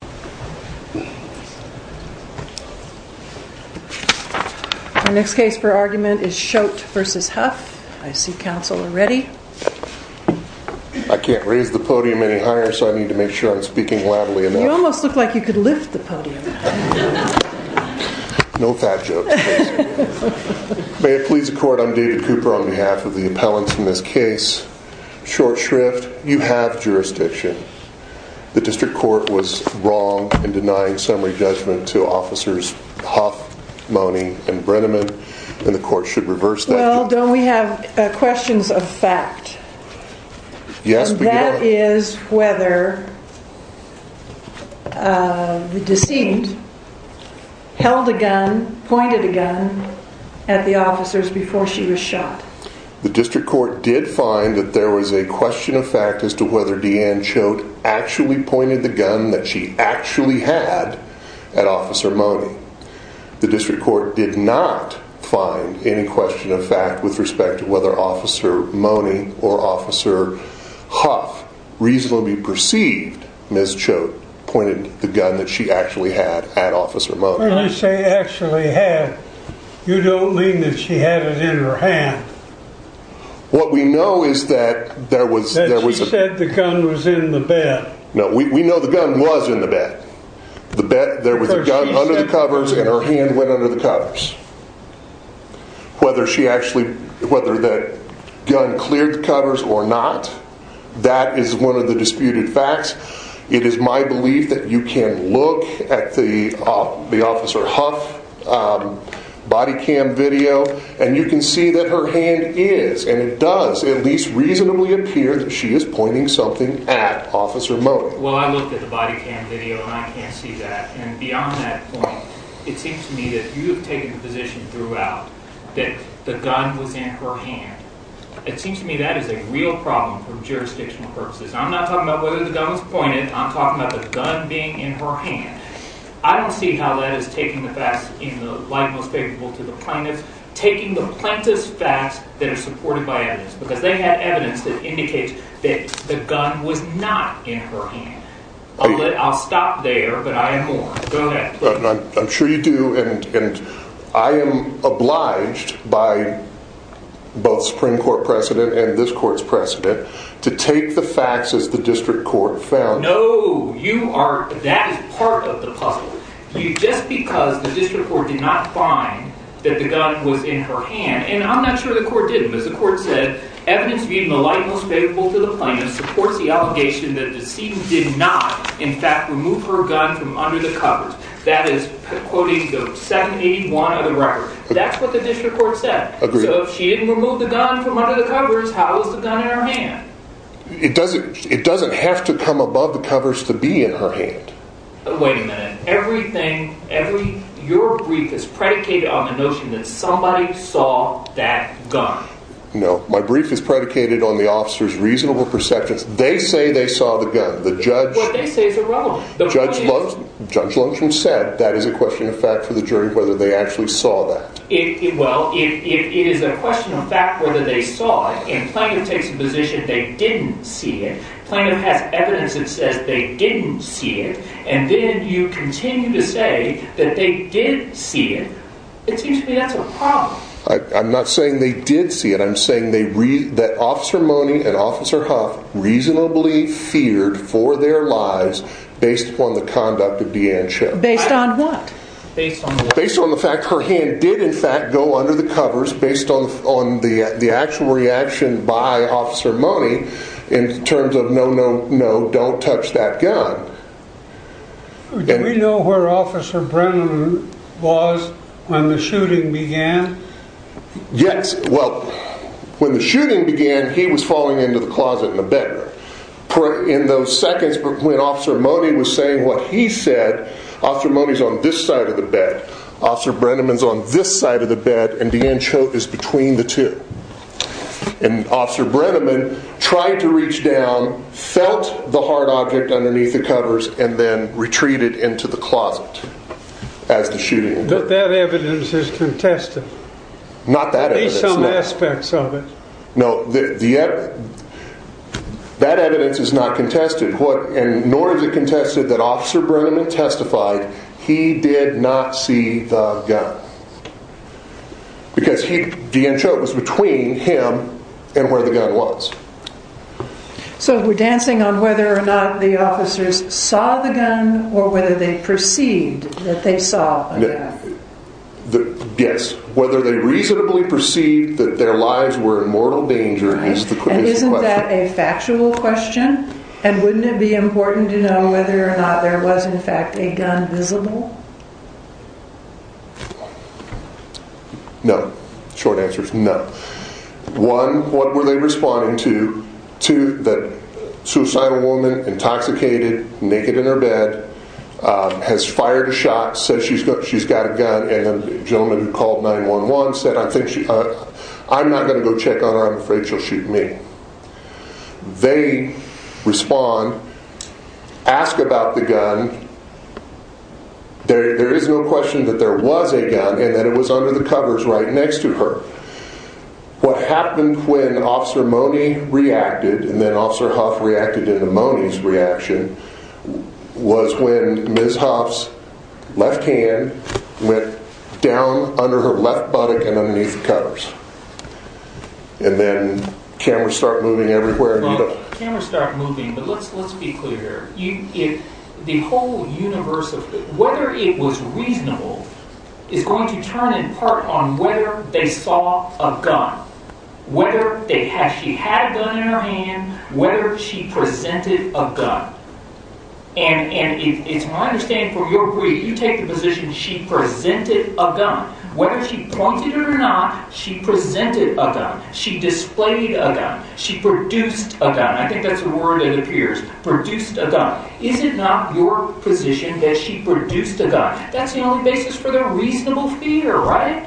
May it please the Court, I'm David Cooper on behalf of the appellants in this case. The District Court was wrong in denying summary judgment to officers Huff, Monning, and Brenneman and the Court should reverse that. Well, don't we have questions of fact, and that is whether the decedent held a gun, pointed a gun at the officers before she was shot. The District Court did find that there was a question of fact as to whether Deanne Choate actually pointed the gun that she actually had at Officer Monning. The District Court did not find any question of fact with respect to whether Officer Monning or Officer Huff reasonably perceived Ms. Choate pointed the gun that she actually had at Officer Monning. When I say actually had, you don't mean that she had it in her hand. What we know is that there was, that she said the gun was in the bed. No, we know the gun was in the bed. The bed, there was a gun under the covers and her hand went under the covers. Whether she actually, whether the gun cleared the covers or not, that is one of the disputed facts. It is my belief that you can look at the Officer Huff body cam video and you can see that her hand is, and it does at least reasonably appear that she is pointing something at Officer Monning. Well, I looked at the body cam video and I can't see that. And beyond that point, it seems to me that you have taken the position throughout that the gun was in her hand. It seems to me that is a real problem for jurisdictional purposes. I'm not talking about whether the gun was pointed, I'm talking about the gun being in her hand. I don't see how that is taking the facts in the light most favorable to the plaintiffs. Taking the plaintiff's facts that are supported by evidence, because they had evidence that indicates that the gun was not in her hand. I'll stop there, but I have more. Go ahead. I'm sure you do, and I am obliged by both Supreme Court precedent and this court's precedent to take the facts as the district court found. No, you are, that is part of the puzzle. Just because the district court did not find that the gun was in her hand, and I'm not sure the court did, but as the court said, evidence being the light most favorable to the plaintiff supports the allegation that the decedent did not, in fact, remove her gun from under the covers. That is quoting the 781 of the record. That's what the district court said. So if she didn't remove the gun from under the covers, how was the gun in her hand? It doesn't have to come above the covers to be in her hand. Wait a minute, everything, your brief is predicated on the notion that somebody saw that gun. No, my brief is predicated on the officer's reasonable perceptions. They say they saw the gun. The judge- What they say is irrelevant. The point is- Judge Lundgren said that is a question of fact for the jury whether they actually saw that. Well, it is a question of fact whether they saw it, and plaintiff takes the position they didn't see it. Plaintiff has evidence that says they didn't see it, and then you continue to say that they did see it. It seems to me that's a problem. I'm not saying they did see it, I'm saying that Officer Mone and Officer Huff reasonably feared for their lives based upon the conduct of Deanne Chipp. Based on what? Based on the fact her hand did, in fact, go under the covers based on the actual reaction by Officer Mone in terms of no, no, no, don't touch that gun. Do we know where Officer Brennan was when the shooting began? Yes. Well, when the shooting began, he was falling into the closet in the bedroom. In those seconds when Officer Mone was saying what he said, Officer Mone's on this side of the bed, Officer Brenneman's on this side of the bed, and Deanne Chipp is between the two. And Officer Brenneman tried to reach down, felt the hard object underneath the covers, and then retreated into the closet as the shooting occurred. That evidence is contested. Not that evidence, no. At least some aspects of it. No, that evidence is not contested, nor is it contested that Officer Brenneman testified he did not see the gun. Because Deanne Chipp was between him and where the gun was. So we're dancing on whether or not the officers saw the gun or whether they perceived that they saw a gun. Yes, whether they reasonably perceived that their lives were in mortal danger is the question. And isn't that a factual question? And wouldn't it be important to know whether or not there was, in fact, a gun visible? No. Short answers, no. One, what were they responding to? Two, the suicidal woman, intoxicated, naked in her bed, has fired a shot, says she's got a gun. And the gentleman who called 911 said, I'm not going to go check on her, I'm afraid she'll shoot me. They respond, ask about the gun. There is no question that there was a gun, and that it was under the covers right next to her. What happened when Officer Mone reacted, and then Officer Huff reacted into Mone's reaction, was when Ms. Huff's left hand went down under her left buttock and underneath the covers. And then cameras start moving everywhere. Well, cameras start moving, but let's be clear here. The whole universe of, whether it was reasonable is going to turn in part on whether they saw a gun. Whether she had a gun in her hand, whether she presented a gun. And it's my understanding from your brief, you take the position she presented a gun. Whether she pointed it or not, she presented a gun. She displayed a gun. She produced a gun. I think that's the word that appears. Produced a gun. Is it not your position that she produced a gun? That's the only basis for their reasonable fear, right?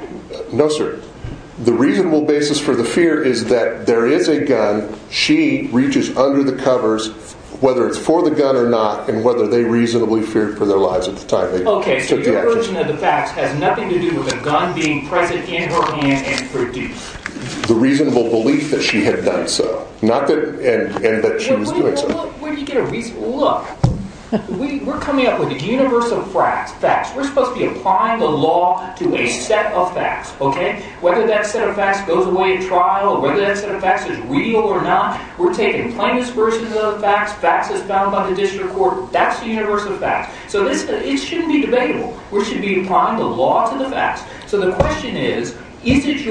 No, sir. The reasonable basis for the fear is that there is a gun. She reaches under the covers, whether it's for the gun or not, and whether they reasonably feared for their lives at the time they took the action. Okay, so your version of the facts has nothing to do with a gun being present in her hand and produced. The reasonable belief that she had done so. Not that, and that she was doing so. Where do you get a reasonable, look. We're coming up with a universe of facts. We're supposed to be applying the law to a set of facts, okay? Whether that set of facts goes away in trial or whether that set of facts is real or not, we're taking plaintiff's version of the facts. Facts as found by the district court. That's the universe of facts. So it shouldn't be debatable. We should be applying the law to the facts. So the question is, is it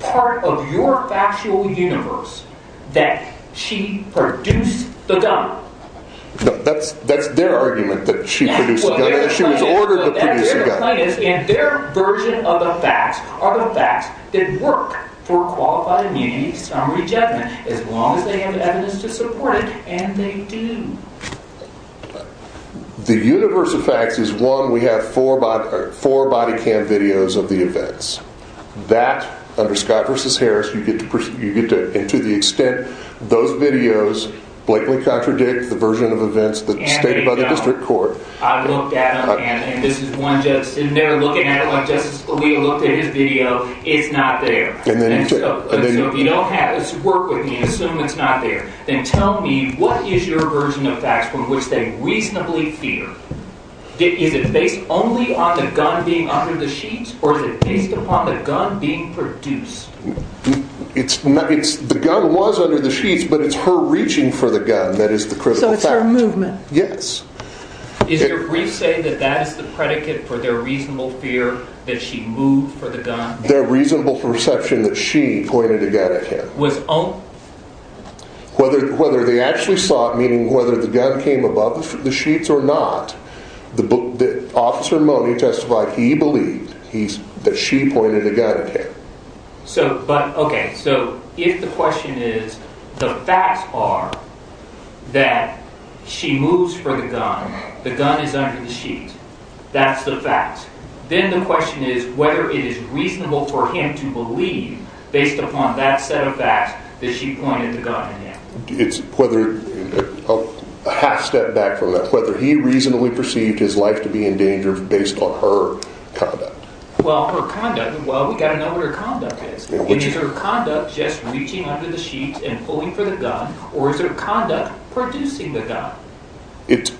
part of your factual universe that she produced the gun? No, that's their argument that she produced the gun. She was ordered to produce the gun. They're the plaintiffs, and their version of the facts are the facts that work for qualified immunity, summary judgment, as long as they have evidence to support it, and they do. The universe of facts is one, we have four body cam videos of the events. That, under Scott v. Harris, you get to, and to the extent those videos blatantly contradict the version of events that's stated by the district court. I've looked at them, and this is one judge sitting there looking at it like Justice Scalia looked at his video. It's not there. So if you don't have this, work with me and assume it's not there. Then tell me, what is your version of facts from which they reasonably fear? Is it based only on the gun being under the sheets, or is it based upon the gun being produced? The gun was under the sheets, but it's her reaching for the gun that is the critical fact. So it's her movement. The gun? Yes. Is your brief saying that that is the predicate for their reasonable fear that she moved for the gun? Their reasonable perception that she pointed a gun at him. Whether they actually saw it, meaning whether the gun came above the sheets or not, Officer Mone testified he believed that she pointed a gun at him. Okay, so if the question is, the facts are that she moves for the gun, the gun is under the sheet. That's the fact. Then the question is whether it is reasonable for him to believe, based upon that set of facts, that she pointed the gun at him. It's whether, a half step back from that, whether he reasonably perceived his life to be in danger based on her conduct. Well, her conduct, well we've got to know what her conduct is. Is her conduct just reaching under the sheets and pulling for the gun, or is her conduct producing the gun? It's,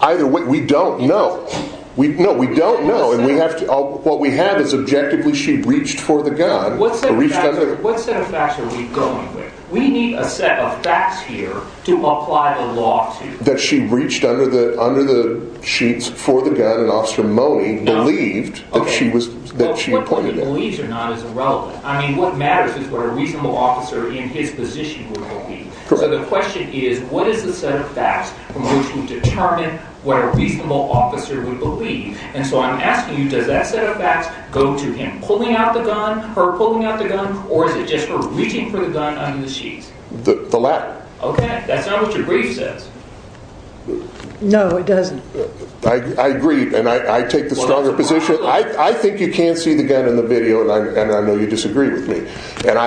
either, we don't know. No, we don't know. What we have is objectively she reached for the gun. What set of facts are we going with? We need a set of facts here to apply the law to. That she reached under the sheets for the gun and Officer Mone believed that she had pointed it. What point he believes or not is irrelevant. I mean, what matters is what a reasonable officer in his position would believe. So the question is, what is the set of facts from which we determine what a reasonable officer would believe? And so I'm asking you, does that set of facts go to him pulling out the gun, her pulling out the gun, or is it just her reaching for the gun under the sheets? The latter. Okay, that's not what your brief says. No, it doesn't. I agree, and I take the stronger position. I think you can't see the gun in the video, and I know you disagree with me. And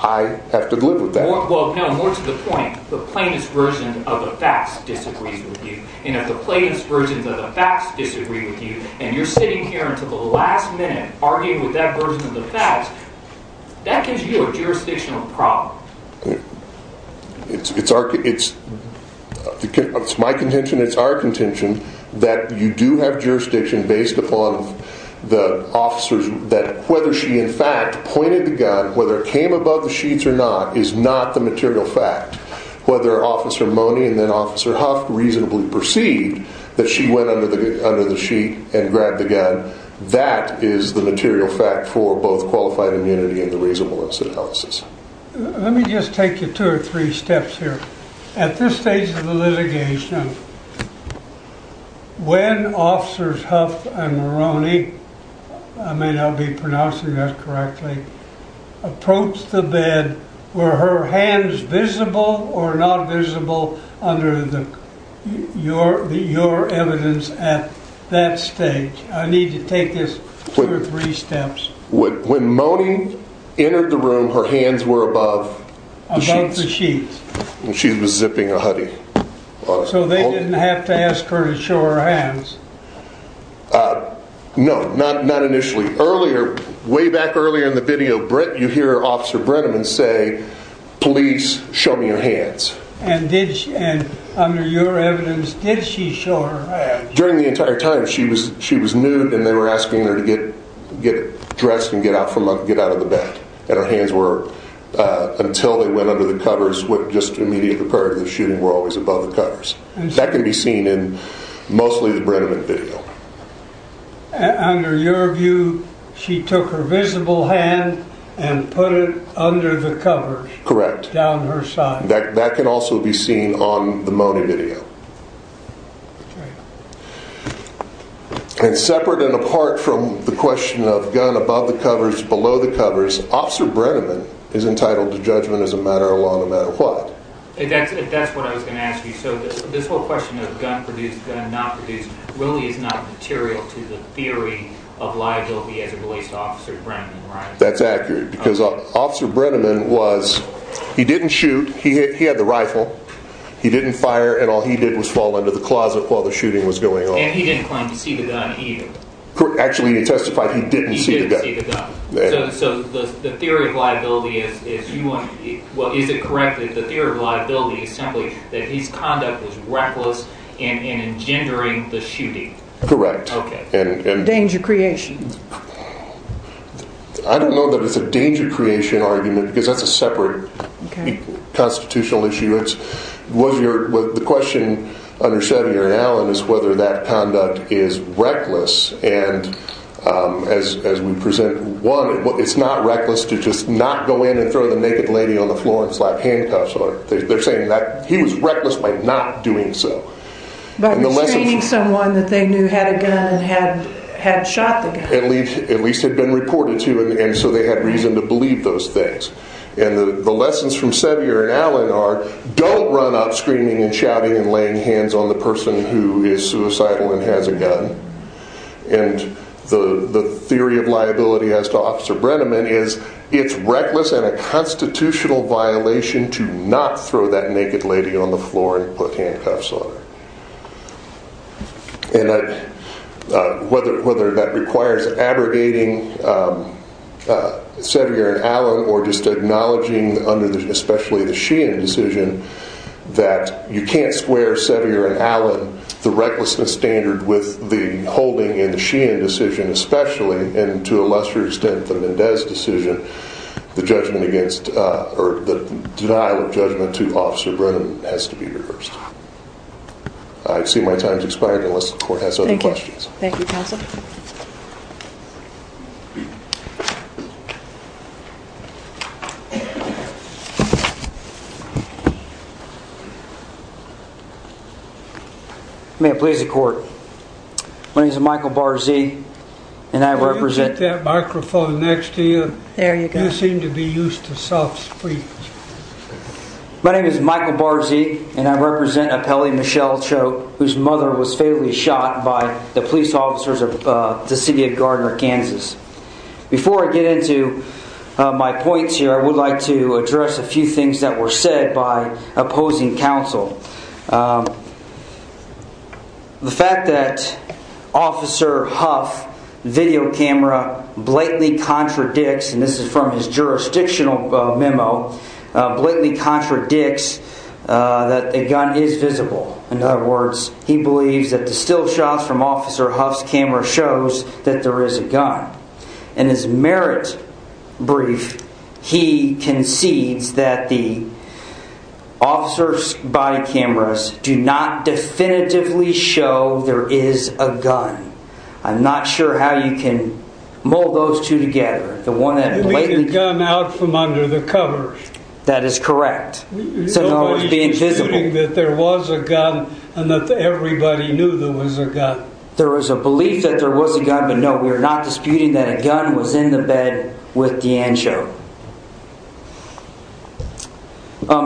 I have to live with that. Well, no, more to the point, the plainest version of the facts disagrees with you. And if the plainest versions of the facts disagree with you, and you're sitting here until the last minute arguing with that version of the facts, that gives you a jurisdictional problem. It's my contention, it's our contention, that you do have jurisdiction based upon the officers that whether she in fact pointed the gun, whether it came above the sheets or not, is not the material fact. Whether Officer Mone and then Officer Huff reasonably perceived that she went under the sheet and grabbed the gun, that is the material fact for both qualified immunity and the reasonable incident analysis. Let me just take you two or three steps here. At this stage of the litigation, when Officers Huff and Moroney, I may not be pronouncing that correctly, approached the bed, were her hands visible or not visible under your evidence at that stage? I need to take this two or three steps. When Mone entered the room, her hands were above the sheets. Above the sheets. She was zipping a hoodie. So they didn't have to ask her to show her hands? No, not initially. Way back earlier in the video, you hear Officer Brenneman say, please show me your hands. And under your evidence, did she show her hands? During the entire time, she was nude and they were asking her to get dressed and get out of the bed. And her hands were, until they went under the covers, just immediately prior to the shooting, were always above the covers. That can be seen in mostly the Brenneman video. Under your view, she took her visible hand and put it under the covers. Correct. Down her side. That can also be seen on the Mone video. And separate and apart from the question of gun above the covers, below the covers, Officer Brenneman is entitled to judgment as a matter of law no matter what. If that's what I was going to ask you, so this whole question of gun produced, gun not produced, really is not material to the theory of liability as it relates to Officer Brenneman, right? That's accurate. Because Officer Brenneman was, he didn't shoot. He had the rifle. He didn't fire. And all he did was fall under the closet while the shooting was going on. And he didn't claim to see the gun either. Actually, he testified he didn't see the gun. He didn't see the gun. So the theory of liability is, well, is it correct that the theory of liability is simply that his conduct was reckless in engendering the shooting? Correct. Okay. Danger creation. I don't know that it's a danger creation argument because that's a separate constitutional issue. The question under Sevier and Allen is whether that conduct is reckless. And as we present, one, it's not reckless to just not go in and throw the naked lady on the floor and slap handcuffs. They're saying that he was reckless by not doing so. By restraining someone that they knew had a gun and had shot the guy. At least had been reported to. And so they had reason to believe those things. And the lessons from Sevier and Allen are don't run up screaming and shouting and laying hands on the person who is suicidal and has a gun. And the theory of liability as to Officer Brenneman is it's reckless and a constitutional violation to not throw that naked lady on the floor and put handcuffs on her. And whether that requires abrogating Sevier and Allen or just acknowledging under especially the Sheehan decision that you can't square Sevier and Allen, the recklessness standard with the holding in the Sheehan decision especially and to a lesser extent the Mendez decision, the judgment against or the denial of judgment to Officer Brenneman has to be reversed. I see my time has expired unless the court has other questions. Thank you counsel. May it please the court. My name is Michael Barzee and I represent. Will you take that microphone next to you? There you go. You seem to be used to soft speech. My name is Michael Barzee and I represent Appellee Michelle Choke whose mother was fatally shot by the police officers of the city of Gardner, Kansas. Before I get into my points here I would like to address a few things that were said by opposing counsel. The fact that Officer Huff's video camera blatantly contradicts, and this is from his jurisdictional memo, blatantly contradicts that a gun is visible. In other words, he believes that the still shots from Officer Huff's camera shows that there is a gun. In his merit brief, he concedes that the officer's body cameras do not definitively show there is a gun. I'm not sure how you can mold those two together. You mean the gun out from under the covers? That is correct. Nobody is disputing that there was a gun and that everybody knew there was a gun. There was a belief that there was a gun, but no, we are not disputing that a gun was in the bed with DeAngeo.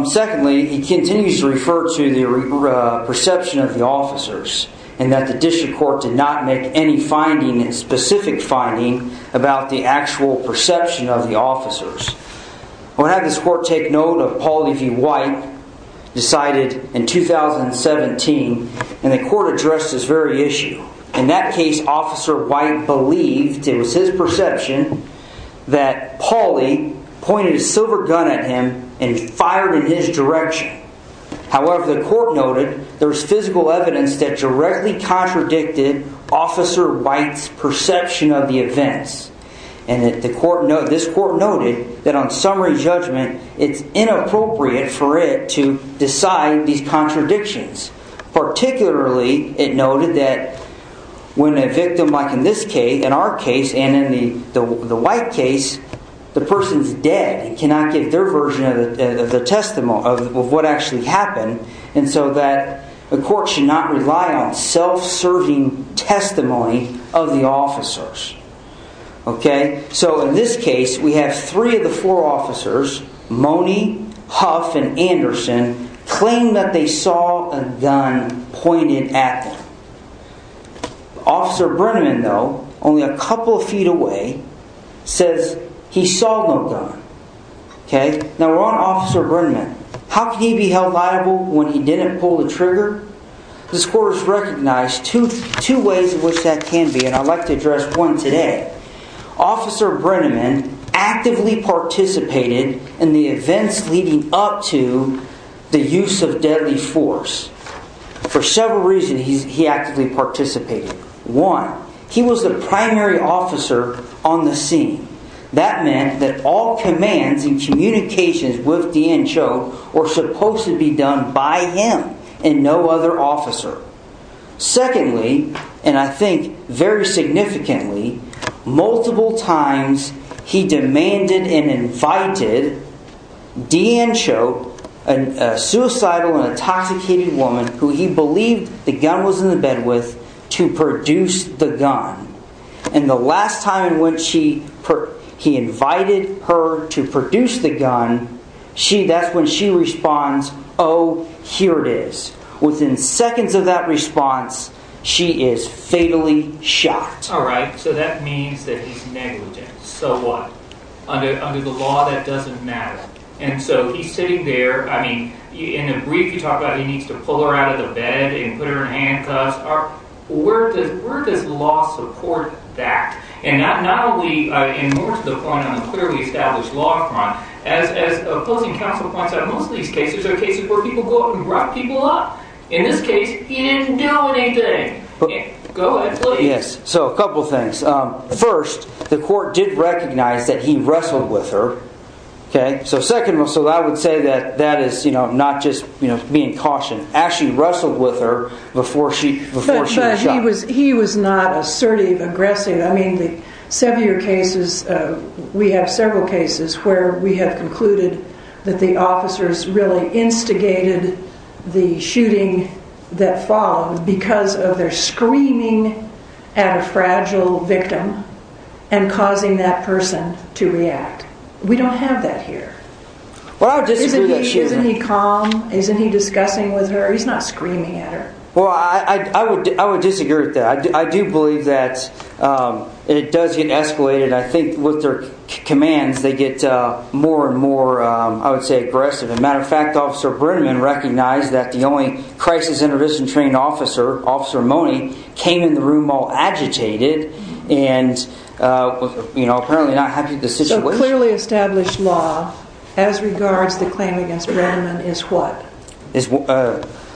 Secondly, he continues to refer to the perception of the officers and that the district court did not make any finding, any specific finding about the actual perception of the officers. I want to have this court take note of Pauley v. White, decided in 2017, and the court addressed this very issue. In that case, Officer White believed, it was his perception, that Pauley pointed a silver gun at him and fired in his direction. However, the court noted there was physical evidence that directly contradicted Officer White's perception of the events. This court noted that on summary judgment, it's inappropriate for it to decide these contradictions. Particularly, it noted that when a victim, like in this case, in our case, and in the White case, the person is dead and cannot give their version of what actually happened. The court should not rely on self-serving testimony of the officers. In this case, we have three of the four officers, Mone, Huff, and Anderson, claim that they saw a gun pointed at them. Officer Brenneman, though, only a couple of feet away, says he saw no gun. Now, we're on Officer Brenneman. How can he be held liable when he didn't pull the trigger? This court has recognized two ways in which that can be, and I'd like to address one today. Officer Brenneman actively participated in the events leading up to the use of deadly force. For several reasons, he actively participated. One, he was the primary officer on the scene. That meant that all commands and communications with D.N. Choke were supposed to be done by him and no other officer. Secondly, and I think very significantly, multiple times he demanded and invited D.N. Choke, a suicidal and intoxicated woman who he believed the gun was in the bed with, to produce the gun. And the last time in which he invited her to produce the gun, that's when she responds, oh, here it is. Within seconds of that response, she is fatally shot. All right. So that means that he's negligent. So what? Under the law, that doesn't matter. And so he's sitting there. I mean, in a brief, you talk about he needs to pull her out of the bed and put her in handcuffs. Where does law support that? And not only in the clearly established law front, as opposing counsel points out, most of these cases are cases where people go out and rough people up. In this case, he didn't do anything. Go ahead, please. Yes. So a couple of things. First, the court did recognize that he wrestled with her. So I would say that that is not just being cautious. Actually wrestled with her before she was shot. But he was not assertive, aggressive. I mean, the severe cases, we have several cases where we have concluded that the officers really instigated the shooting that followed because of their screaming at a fragile victim and causing that person to react. We don't have that here. Well, I would disagree with that. Isn't he calm? Isn't he discussing with her? He's not screaming at her. Well, I would disagree with that. I do believe that it does get escalated. I think with their commands, they get more and more, I would say, aggressive. As a matter of fact, Officer Brenneman recognized that the only crisis intervention trained officer, Officer Mone, came in the room all agitated and apparently not happy with the situation. So clearly established law as regards the claim against Brenneman is what?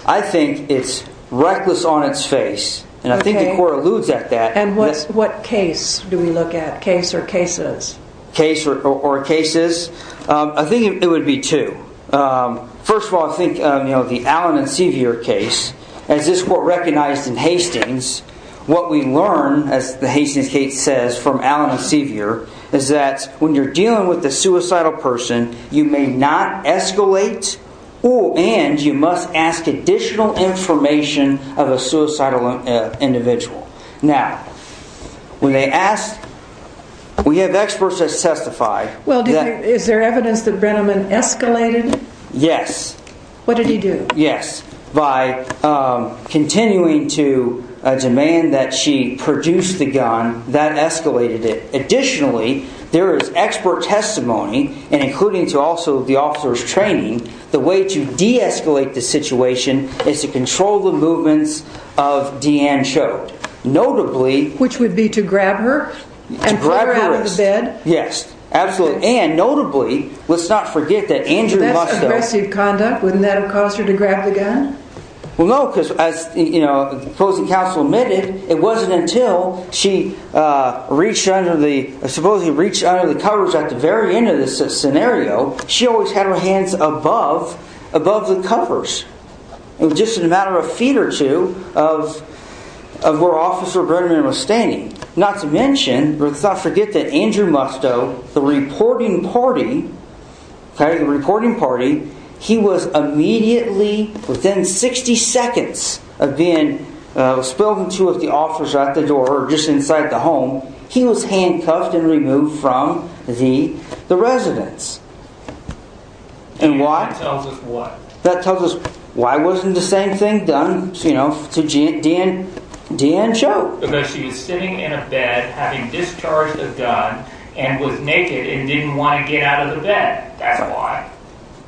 I think it's reckless on its face. And I think the court alludes at that. And what case do we look at? Case or cases? Case or cases? I think it would be two. First of all, I think the Allen and Sevier case, as this court recognized in Hastings, what we learn, as the Hastings case says, from Allen and Sevier, is that when you're dealing with a suicidal person, you may not escalate and you must ask additional information of a suicidal individual. Now, when they ask, we have experts that testify. Well, is there evidence that Brenneman escalated? Yes. What did he do? Yes. By continuing to demand that she produce the gun, that escalated it. Additionally, there is expert testimony, and including to also the officer's training, the way to de-escalate the situation is to control the movements of Deanne Chode. Notably... Which would be to grab her and pull her out of the bed? Yes, absolutely. And notably, let's not forget that Andrew Musto... That's aggressive conduct. Wouldn't that have caused her to grab the gun? Well, no, because as the opposing counsel admitted, it wasn't until she reached under the covers at the very end of the scenario, she always had her hands above the covers, just in a matter of feet or two of where Officer Brenneman was standing. Not to mention, let's not forget that Andrew Musto, the reporting party, he was immediately, within 60 seconds of being spilled into the office at the door or just inside the home, he was handcuffed and removed from the residence. And why? That tells us what? That tells us why wasn't the same thing done to Deanne Chode? Because she was sitting in a bed, having discharged a gun, and was naked and didn't want to get out of the bed. That's why.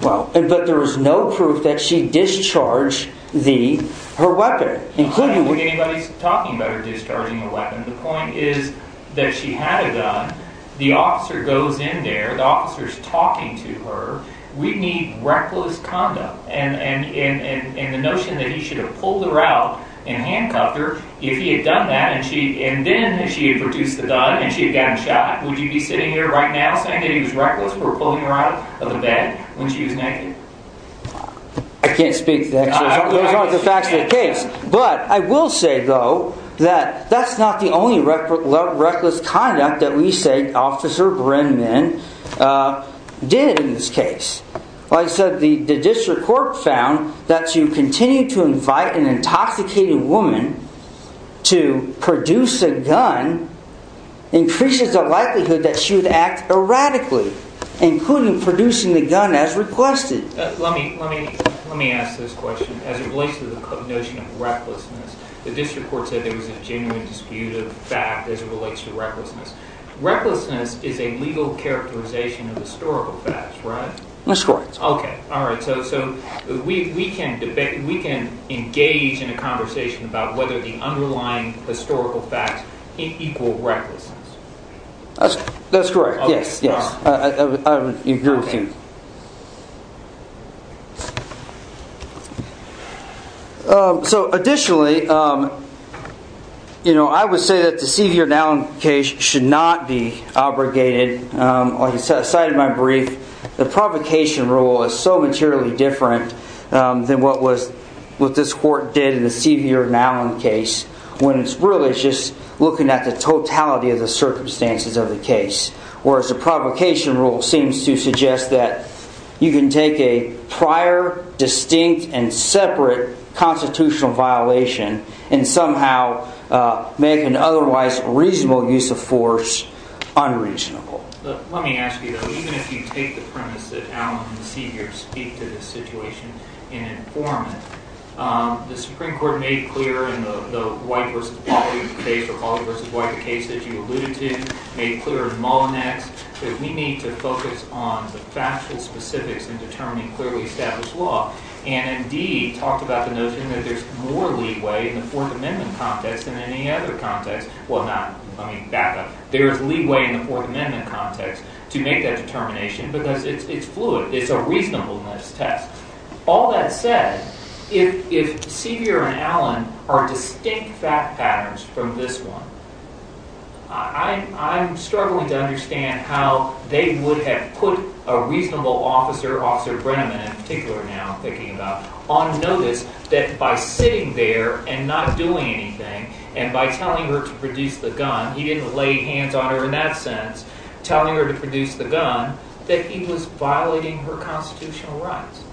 But there is no proof that she discharged her weapon. I don't think anybody's talking about her discharging her weapon. The point is that she had a gun. The officer goes in there, the officer's talking to her. We need reckless conduct. And the notion that he should have pulled her out and handcuffed her, if he had done that and then she had produced the gun and she had gotten shot, would you be sitting here right now saying that he was reckless for pulling her out of the bed when she was naked? I can't speak to that. Those aren't the facts of the case. But I will say, though, that that's not the only reckless conduct that we say Officer Brenneman did in this case. Like I said, the district court found that to continue to invite an intoxicated woman to produce a gun increases the likelihood that she would act erratically, including producing the gun as requested. Let me ask this question. As it relates to the notion of recklessness, the district court said there was a genuine dispute of fact as it relates to recklessness. Recklessness is a legal characterization of historical facts, right? That's correct. Okay. All right. So we can engage in a conversation about whether the underlying historical facts equal recklessness. That's correct. Yes. I would agree with you. So additionally, you know, I would say that the Seaview and Allen case should not be abrogated. Like I cited in my brief, the provocation rule is so materially different than what this court did in the Seaview and Allen case when it's really just looking at the totality of the circumstances of the case. Whereas the provocation rule seems to suggest that you can take a prior, distinct, and separate constitutional violation and somehow make an otherwise reasonable use of force unreasonable. Let me ask you, though. Even if you take the premise that Allen and Seaview speak to this situation and inform it, the Supreme Court made clear in the White v. Pauli case or Pauli v. White case that you alluded to, made clear in Mullinex that we need to focus on the factual specifics in determining clearly established law. And indeed talked about the notion that there's more leeway in the Fourth Amendment context than any other context. Well, not, I mean, backup. There is leeway in the Fourth Amendment context to make that determination because it's fluid. It's a reasonableness test. All that said, if Seaview and Allen are distinct fact patterns from this one, I'm struggling to understand how they would have put a reasonable officer, Officer Brenneman in particular now I'm thinking about, on notice that by sitting there and not doing anything and by telling her to produce the gun, he didn't lay hands on her in that sense, telling her to produce the gun, that he was violating her constitutional rights.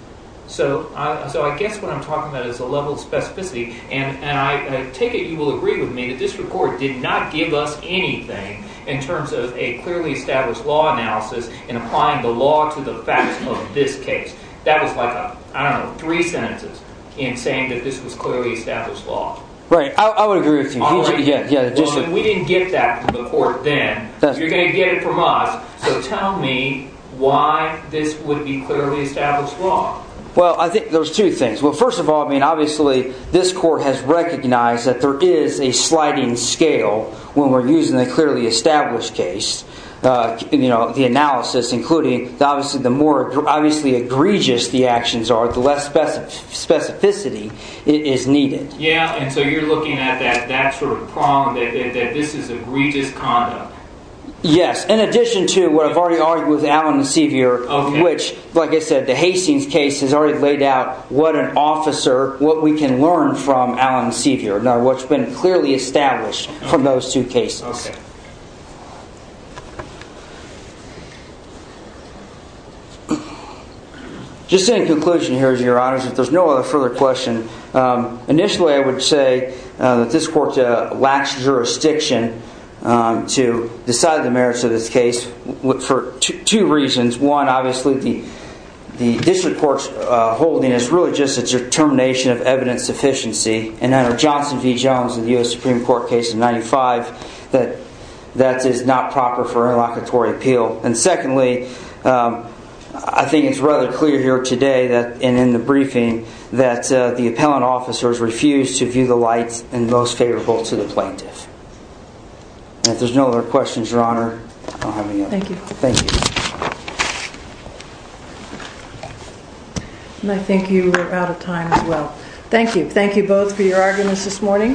So I guess what I'm talking about is a level of specificity. And I take it you will agree with me that this Court did not give us anything in terms of a clearly established law analysis in applying the law to the facts of this case. That was like, I don't know, three sentences in saying that this was clearly established law. Right. I would agree with you. We didn't get that from the Court then. You're going to get it from us. So tell me why this would be clearly established law. Well, I think there's two things. Well, first of all, I mean, obviously, this Court has recognized that there is a sliding scale when we're using a clearly established case. You know, the analysis, including, obviously, the more egregious the actions are, the less specificity is needed. Yeah, and so you're looking at that, that sort of problem, that this is egregious conduct. Yes, in addition to what I've already argued with Allen and Sevier, of which, like I said, the Hastings case has already laid out what an officer, what we can learn from Allen and Sevier, not what's been clearly established from those two cases. Okay. Just in conclusion here, Your Honors, if there's no other further question, initially I would say that this Court lacks jurisdiction to decide the merits of this case for two reasons. One, obviously, the District Court's holding is really just a determination of evidence sufficiency, and under Johnson v. Jones in the U.S. Supreme Court case of 95, that that is not proper for interlocutory appeal. And secondly, I think it's rather clear here today and in the briefing that the appellant officers refused to view the lights in the most favorable to the plaintiff. And if there's no other questions, Your Honor, I'll have to go. Thank you. And I think you are out of time as well. Thank you. Thank you both for your arguments this morning.